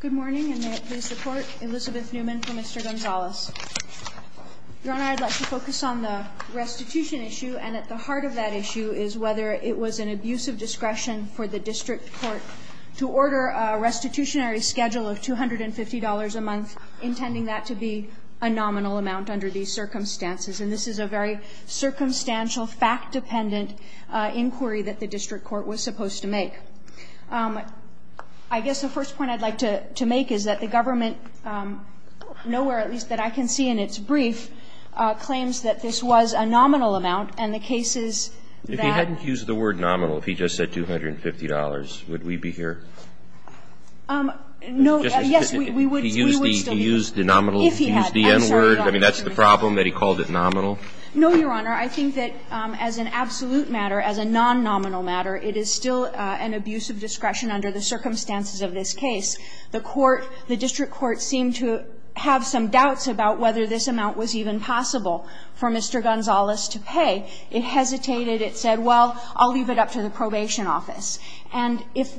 Good morning, and may it please the Court, Elizabeth Neumann for Mr. Gonzalez. Your Honor, I'd like to focus on the restitution issue, and at the heart of that issue is whether it was an abuse of discretion for the district court to order a restitutionary schedule of $250 a month, intending that to be a nominal amount under these circumstances. And this is a very circumstantial, fact-dependent inquiry that the district court was supposed to make. I guess the first point I'd like to make is that the government, nowhere at least that I can see in its brief, claims that this was a nominal amount, and the case is that If he hadn't used the word nominal, if he just said $250, would we be here? No, yes, we would still be here. If he had, I'm sorry, Your Honor. I mean, that's the problem, that he called it nominal? No, Your Honor. I think that as an absolute matter, as a non-nominal matter, it is still an abuse of discretion under the circumstances of this case. The court, the district court seemed to have some doubts about whether this amount was even possible for Mr. Gonzalez to pay. It hesitated. It said, well, I'll leave it up to the probation office. And if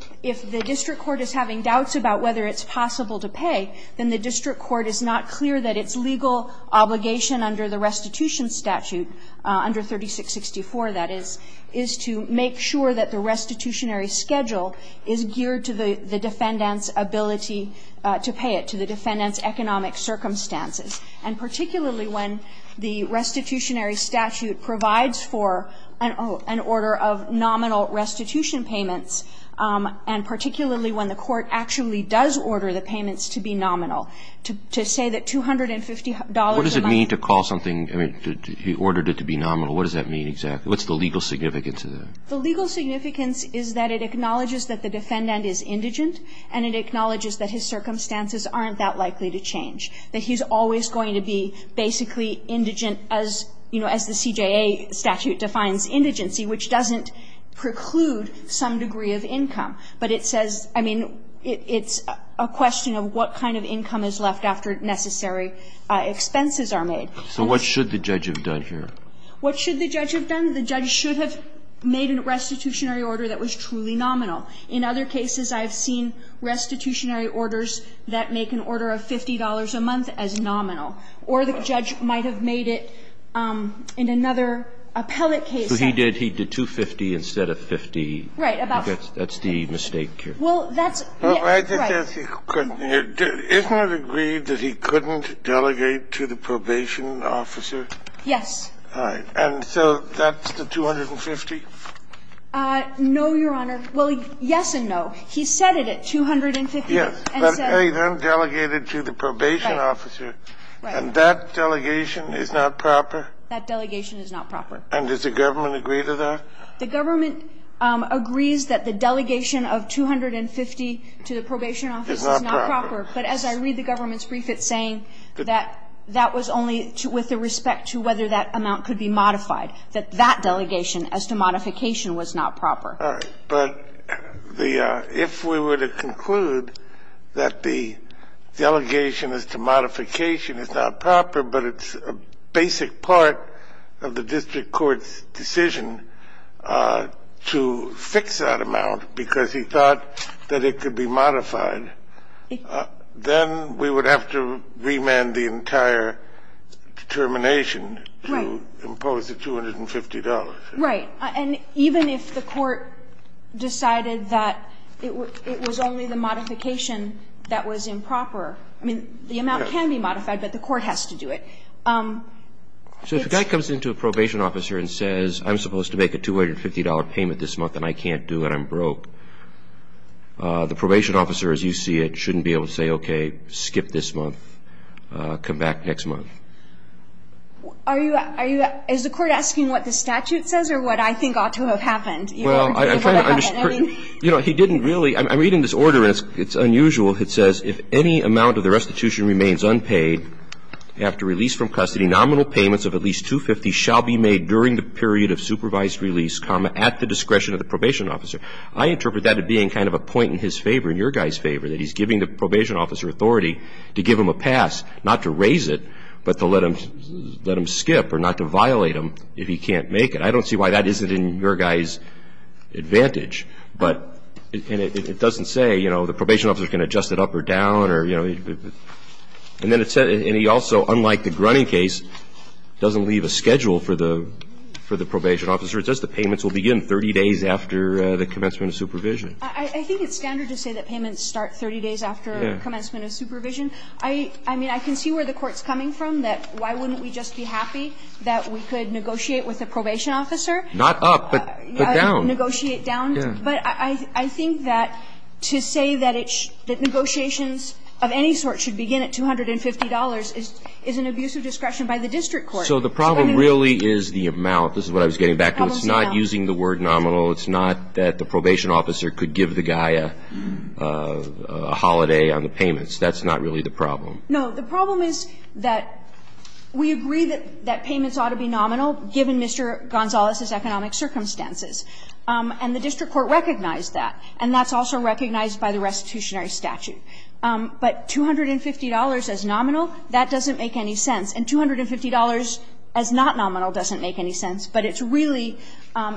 the district court is having doubts about whether it's possible to pay, then the district court is not clear that its legal obligation under the restitution statute, under 3664, that is, is to make sure that the restitutionary schedule is geared to the defendant's ability to pay it, to the defendant's economic circumstances, and particularly when the restitutionary statute provides for an order of nominal restitution payments, and particularly when the court actually does order the payments to be nominal. To say that $250 a month. What does it mean to call something, I mean, he ordered it to be nominal. What does that mean exactly? What's the legal significance of that? The legal significance is that it acknowledges that the defendant is indigent and it acknowledges that his circumstances aren't that likely to change, that he's always going to be basically indigent as, you know, as the CJA statute defines indigency, which doesn't preclude some degree of income. But it says, I mean, it's a question of what kind of income is left after necessary expenses are made. So what should the judge have done here? What should the judge have done? The judge should have made a restitutionary order that was truly nominal. In other cases, I've seen restitutionary orders that make an order of $50 a month as nominal. Or the judge might have made it in another appellate case. So he did, he did $250 instead of $50. Right. That's the mistake here. Well, that's right. Isn't it agreed that he couldn't delegate to the probation officer? Yes. All right. And so that's the $250? No, Your Honor. Well, yes and no. He said it at $250 and said. But he then delegated to the probation officer. Right. And that delegation is not proper? That delegation is not proper. And does the government agree to that? The government agrees that the delegation of $250 to the probation officer is not proper. But as I read the government's brief, it's saying that that was only with respect to whether that amount could be modified, that that delegation as to modification was not proper. All right. But the --"if we were to conclude that the delegation as to modification is not proper, but it's a basic part of the district court's decision to fix that amount because he thought that it could be modified, then we would have to remand the entire determination to impose the $250." Right. And even if the court decided that it was only the modification that was improper, I mean, the amount can be modified, but the court has to do it. So if a guy comes into a probation officer and says, I'm supposed to make a $250 payment this month and I can't do it, I'm broke, the probation officer, as you see it, shouldn't be able to say, okay, skip this month, come back next month. Are you at – is the court asking what the statute says or what I think ought to have happened? Well, I'm trying to understand. You know, he didn't really – I'm reading this order and it's unusual. It says, if any amount of the restitution remains unpaid after release from custody, nominal payments of at least $250 shall be made during the period of supervised release, comma, at the discretion of the probation officer. I interpret that to being kind of a point in his favor, in your guy's favor, that he's giving the probation officer authority to give him a pass, not to raise it, but to let him skip or not to violate him if he can't make it. I don't see why that isn't in your guy's advantage. But it doesn't say, you know, the probation officer can adjust it up or down or, you know, and then it says – and he also, unlike the Grunning case, doesn't leave a schedule for the – for the probation officer. It says the payments will begin 30 days after the commencement of supervision. I think it's standard to say that payments start 30 days after commencement of supervision. I mean, I can see where the Court's coming from, that why wouldn't we just be happy that we could negotiate with the probation officer? Not up, but down. Negotiate down. But I think that to say that it's – that negotiations of any sort should begin at $250 is an abuse of discretion by the district court. So what do we do? So the problem really is the amount – this is what I was getting back to – it's not using the word nominal. It's not that the probation officer could give the guy a holiday on the payments. That's not really the problem. No. The problem is that we agree that payments ought to be nominal, given Mr. Gonzalez's economic circumstances. And the district court recognized that. And that's also recognized by the restitutionary statute. But $250 as nominal, that doesn't make any sense. And $250 as not nominal doesn't make any sense. But it's really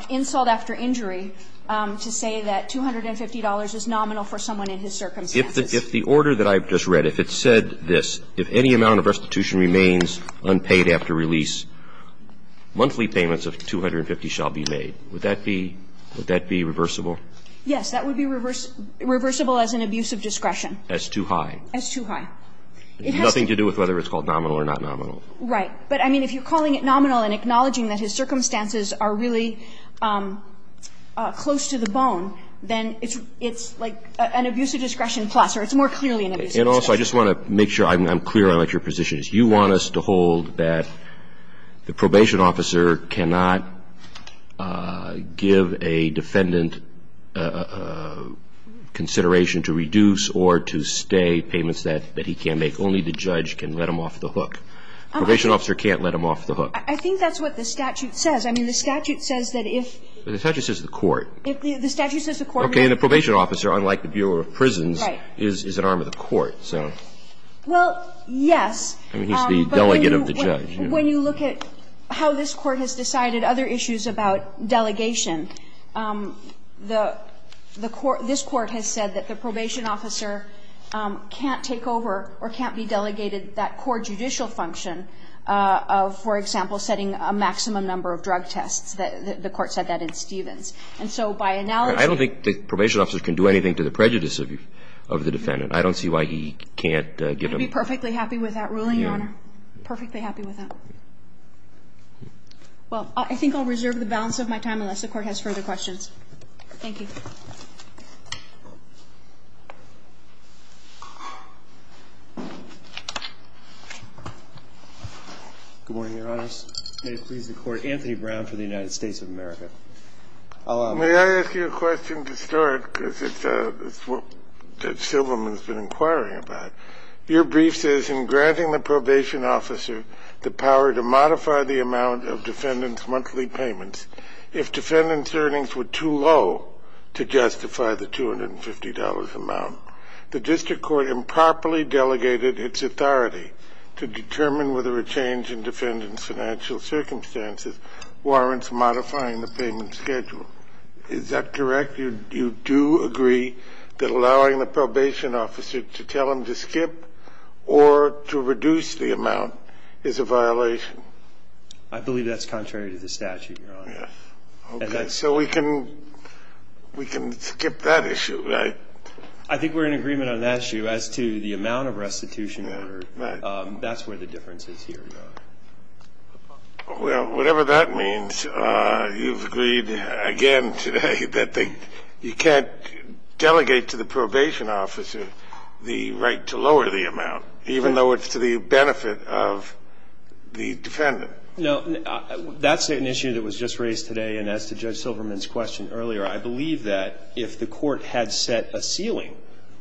insult after injury to say that $250 is nominal for someone in his circumstances. If the order that I've just read, if it said this, if any amount of restitution remains unpaid after release, monthly payments of $250 shall be made, would that be – would that be reversible? Yes. That would be reversible as an abuse of discretion. As too high. As too high. It has nothing to do with whether it's called nominal or not nominal. Right. But, I mean, if you're calling it nominal and acknowledging that his circumstances are really close to the bone, then it's like an abuse of discretion plus, or it's more clearly an abuse of discretion. And also, I just want to make sure I'm clear on what your position is. You want us to hold that the probation officer cannot give a defendant consideration to reduce or to stay payments that he can't make. Only the judge can let him off the hook. Probation officer can't let him off the hook. I think that's what the statute says. I mean, the statute says that if – The statute says the court. The statute says the court – Okay. And the probation officer, unlike the Bureau of Prisons, is an arm of the court. So – Well, yes. I mean, he's the delegate of the judge. When you look at how this Court has decided other issues about delegation, the – the court – this Court has said that the probation officer can't take over or can't be delegated that core judicial function of, for example, setting a maximum number of drug tests. The Court said that in Stevens. And so by analogy – I don't think the probation officer can do anything to the prejudice of the defendant. I don't see why he can't give him – I'm perfectly happy with that ruling, Your Honor. I'm perfectly happy with that. Well, I think I'll reserve the balance of my time unless the Court has further questions. Thank you. Good morning, Your Honors. May it please the Court, Anthony Brown for the United States of America. May I ask you a question to start? Because it's what Judge Silverman has been inquiring about. Your brief says, in granting the probation officer the power to modify the amount of defendant's monthly payments if defendant's earnings were too low to justify the $250 amount, the district court improperly delegated its authority to determine whether a change in defendant's financial circumstances warrants modifying the payment schedule. Is that correct? You do agree that allowing the probation officer to tell him to skip or to reduce the amount is a violation? I believe that's contrary to the statute, Your Honor. Okay. So we can skip that issue, right? I think we're in agreement on that issue as to the amount of restitution ordered. Right. That's where the difference is here, Your Honor. Well, whatever that means, you've agreed again today that you can't delegate to the probation officer the right to lower the amount, even though it's to the benefit of the defendant. No. That's an issue that was just raised today. And as to Judge Silverman's question earlier, I believe that if the Court had set a ceiling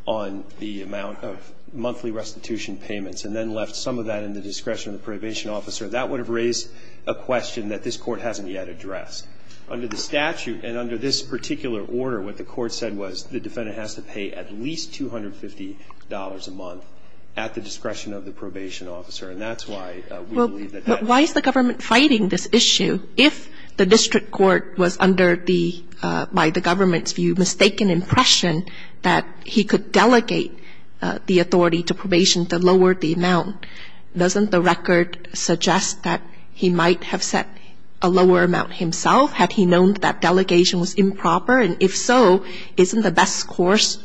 on the amount of monthly restitution payments and then left some of that discretion to the probation officer, that would have raised a question that this Court hasn't yet addressed. Under the statute and under this particular order, what the Court said was the defendant has to pay at least $250 a month at the discretion of the probation officer. And that's why we believe that that's not true. Well, but why is the government fighting this issue if the district court was under the, by the government's view, mistaken impression that he could delegate the authority to probation to lower the amount? Doesn't the record suggest that he might have set a lower amount himself had he known that delegation was improper? And if so, isn't the best course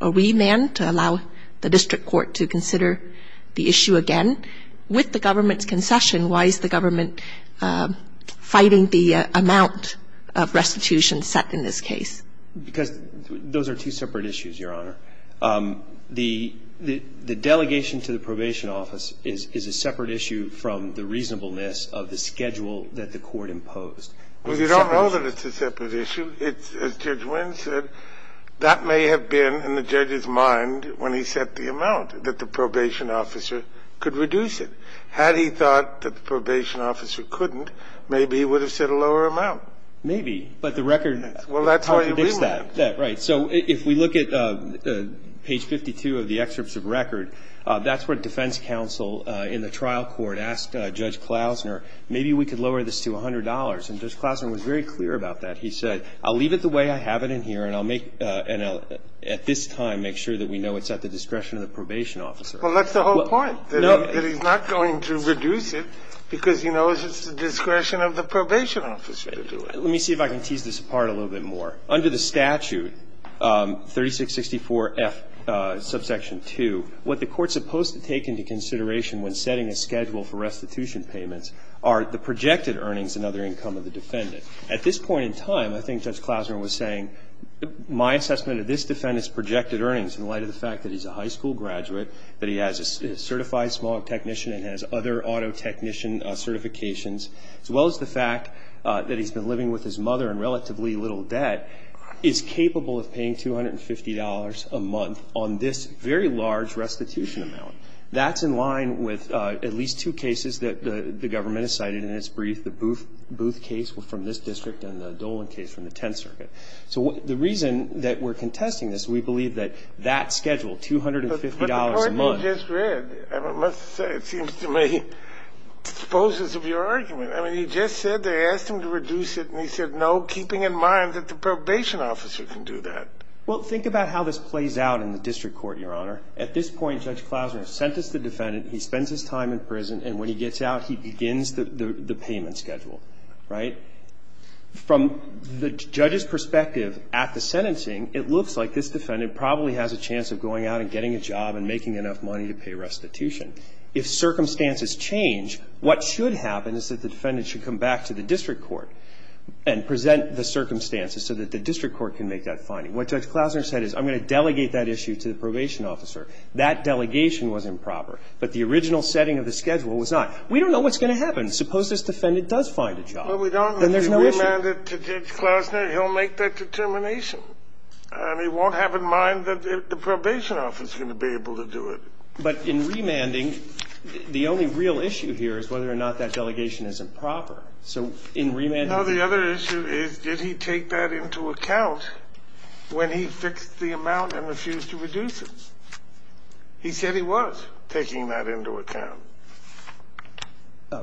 a remand to allow the district court to consider the issue again? With the government's concession, why is the government fighting the amount of restitution set in this case? Because those are two separate issues, Your Honor. The delegation to the probation office is a separate issue from the reasonableness of the schedule that the Court imposed. Well, you don't know that it's a separate issue. It's, as Judge Wynn said, that may have been in the judge's mind when he set the amount, that the probation officer could reduce it. Had he thought that the probation officer couldn't, maybe he would have set a lower amount. Well, that's how he remanded it. So if we look at page 52 of the excerpts of record, that's where defense counsel in the trial court asked Judge Klausner, maybe we could lower this to $100. And Judge Klausner was very clear about that. He said, I'll leave it the way I have it in here, and I'll, at this time, make sure that we know it's at the discretion of the probation officer. Well, that's the whole point, that he's not going to reduce it because he knows it's at the discretion of the probation officer to do it. Let me see if I can tease this apart a little bit more. Under the statute, 3664F, subsection 2, what the court's supposed to take into consideration when setting a schedule for restitution payments are the projected earnings and other income of the defendant. At this point in time, I think Judge Klausner was saying, my assessment of this defendant's projected earnings in light of the fact that he's a high school graduate, that he has a certified small technician and has other auto technician certifications, as well as the fact that he's been living with his mother in relatively little debt, is capable of paying $250 a month on this very large restitution amount. That's in line with at least two cases that the government has cited in its brief, the Booth case from this district and the Dolan case from the Tenth Circuit. So the reason that we're contesting this, we believe that that schedule, $250 a month. I just read, I must say, it seems to me, exposes of your argument. I mean, you just said they asked him to reduce it, and he said no, keeping in mind that the probation officer can do that. Well, think about how this plays out in the district court, Your Honor. At this point, Judge Klausner sentenced the defendant, he spends his time in prison, and when he gets out, he begins the payment schedule, right? From the judge's perspective at the sentencing, it looks like this defendant probably has a chance of going out and getting a job and making enough money to pay restitution. If circumstances change, what should happen is that the defendant should come back to the district court and present the circumstances so that the district court can make that finding. What Judge Klausner said is, I'm going to delegate that issue to the probation officer. That delegation was improper, but the original setting of the schedule was not. We don't know what's going to happen. Suppose this defendant does find a job. Well, we don't. Then there's no issue. If we demand it to Judge Klausner, he'll make that determination. And he won't have in mind that the probation officer is going to be able to do it. But in remanding, the only real issue here is whether or not that delegation isn't proper. So in remanding... No, the other issue is, did he take that into account when he fixed the amount and refused to reduce it? He said he was taking that into account.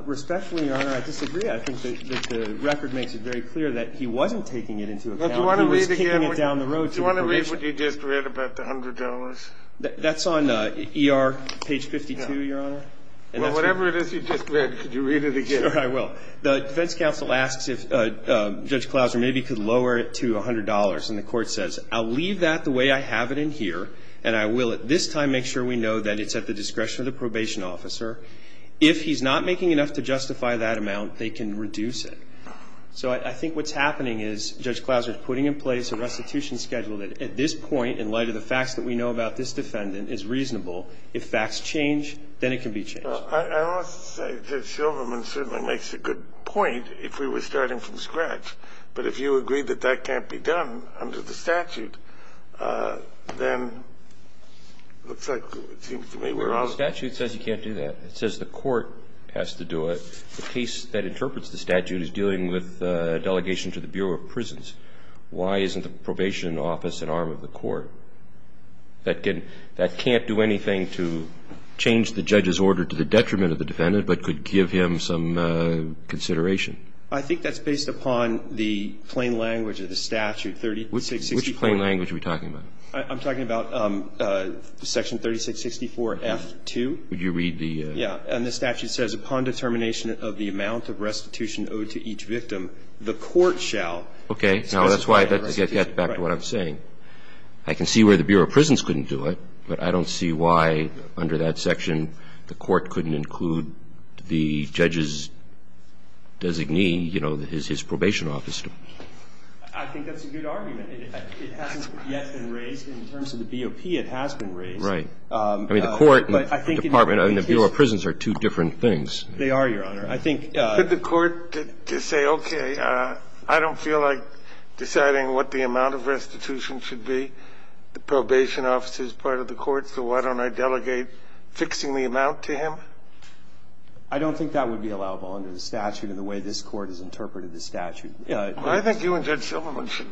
Respectfully, Your Honor, I disagree. I think that the record makes it very clear that he wasn't taking it into account. He was kicking it down the road to the probation office. Do you want to read what you just read about the $100? That's on ER page 52, Your Honor. Well, whatever it is you just read, could you read it again? Sure, I will. The defense counsel asks if Judge Klausner maybe could lower it to $100. And the court says, I'll leave that the way I have it in here, and I will at this time make sure we know that it's at the discretion of the probation officer. If he's not making enough to justify that amount, they can reduce it. So I think what's happening is Judge Klausner is putting in place a restitution schedule that at this point, in light of the facts that we know about this defendant, is reasonable. If facts change, then it can be changed. I want to say that Silverman certainly makes a good point if we were starting from scratch. But if you agree that that can't be done under the statute, then it looks like it seems to me we're on... The statute says you can't do that. It says the court has to do it. The case that interprets the statute is dealing with delegation to the Bureau of Prisons. Why isn't the probation office an arm of the court that can't do anything to change the judge's order to the detriment of the defendant, but could give him some consideration? I think that's based upon the plain language of the statute, 3664. Which plain language are we talking about? I'm talking about section 3664F2. Would you read the... Yeah, and the statute says, upon determination of the amount of restitution owed to each victim, the court shall... Okay, now that's why, to get back to what I'm saying, I can see where the Bureau of Prisons couldn't do it, but I don't see why, under that section, the court couldn't include the judge's designee, you know, his probation office. I think that's a good argument. It hasn't yet been raised. In terms of the BOP, it has been raised. Right. I mean, the court and the department and the Bureau of Prisons are two different things. They are, Your Honor. I think... Could the court just say, okay, I don't feel like deciding what the amount of restitution should be. The probation office is part of the court, so why don't I delegate fixing the amount to him? I don't think that would be allowable under the statute in the way this Court has interpreted the statute. I think you and Judge Silverman should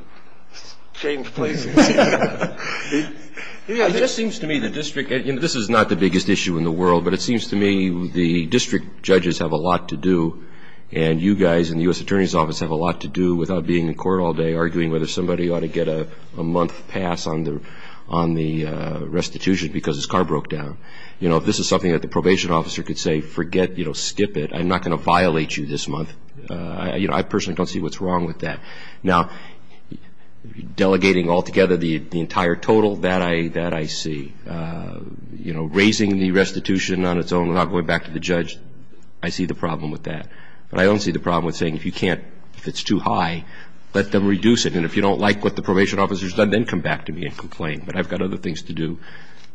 change places. Yeah, it just seems to me the district, and this is not the biggest issue in the world, but it seems to me the district judges have a lot to do, and you guys in the U.S. Attorney's Office have a lot to do without being in court all day arguing whether somebody ought to get a month pass on the restitution because his car broke down. You know, if this is something that the probation officer could say, forget, you know, skip it, I'm not going to violate you this month, you know, I personally don't see what's wrong with that. Now, delegating altogether the entire total, that I see. You know, raising the restitution on its own without going back to the judge, I see the problem with that. But I don't see the problem with saying if you can't, if it's too high, let them reduce it, and if you don't like what the probation officer's done, then come back to me and complain. But I've got other things to do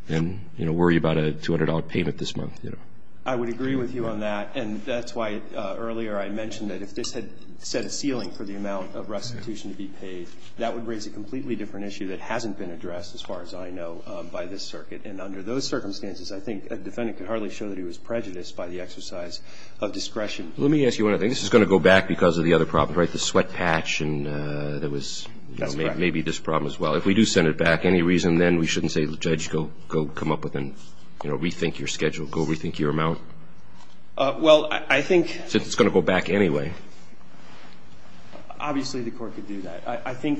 than, you know, worry about a $200 payment this month, you know. I would agree with you on that, and that's why earlier I mentioned that if this had set a ceiling for the amount of restitution to be paid, that would raise a completely different issue that hasn't been addressed, as far as I know, by this circuit. And under those circumstances, I think a defendant could hardly show that he was prejudiced by the exercise of discretion. Let me ask you one other thing. This is going to go back because of the other problem, right, the sweat patch, and there was maybe this problem as well. If we do send it back, any reason then we shouldn't say to the judge, go come up with and, you know, rethink your schedule, go rethink your amount? Well, I think – Since it's going to go back anyway. Obviously, the court could do that. I think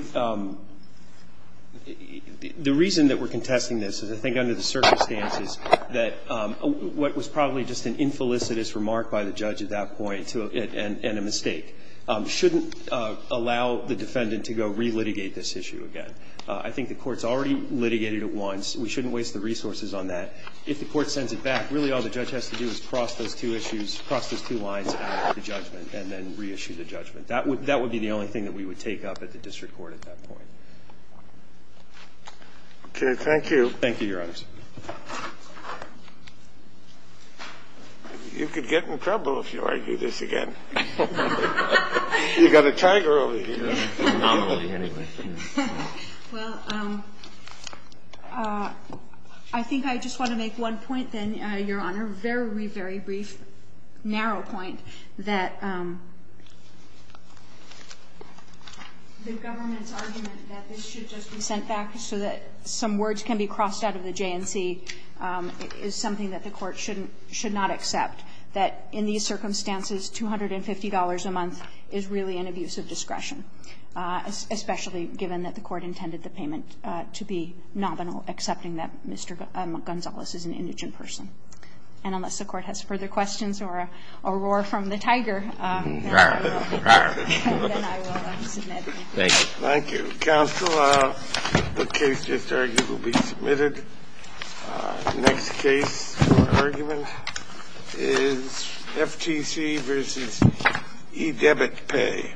the reason that we're contesting this is I think under the circumstances that what was probably just an infelicitous remark by the judge at that point and a mistake shouldn't allow the defendant to go relitigate this issue again. I think the court's already litigated it once. We shouldn't waste the resources on that. If the court sends it back, really all the judge has to do is cross those two issues, cross those two lines out of the judgment and then reissue the judgment. That would be the only thing that we would take up at the district court at that point. Okay. Thank you. Thank you, Your Honors. You could get in trouble if you argue this again. You've got a tiger over here. Well, I think I just want to make one point then, Your Honor, a very, very brief, narrow point that the government's argument that this should just be sent back so that some words can be crossed out of the J&C is something that the court should not accept, that in these circumstances, $250 a month is really an abuse of discretion. Especially given that the court intended the payment to be nominal, accepting that Mr. Gonzales is an indigent person. And unless the court has further questions or a roar from the tiger, then I will submit. Thank you. Thank you. Counsel, the case just argued will be submitted. Next case for argument is FTC v. E-Debit Pay.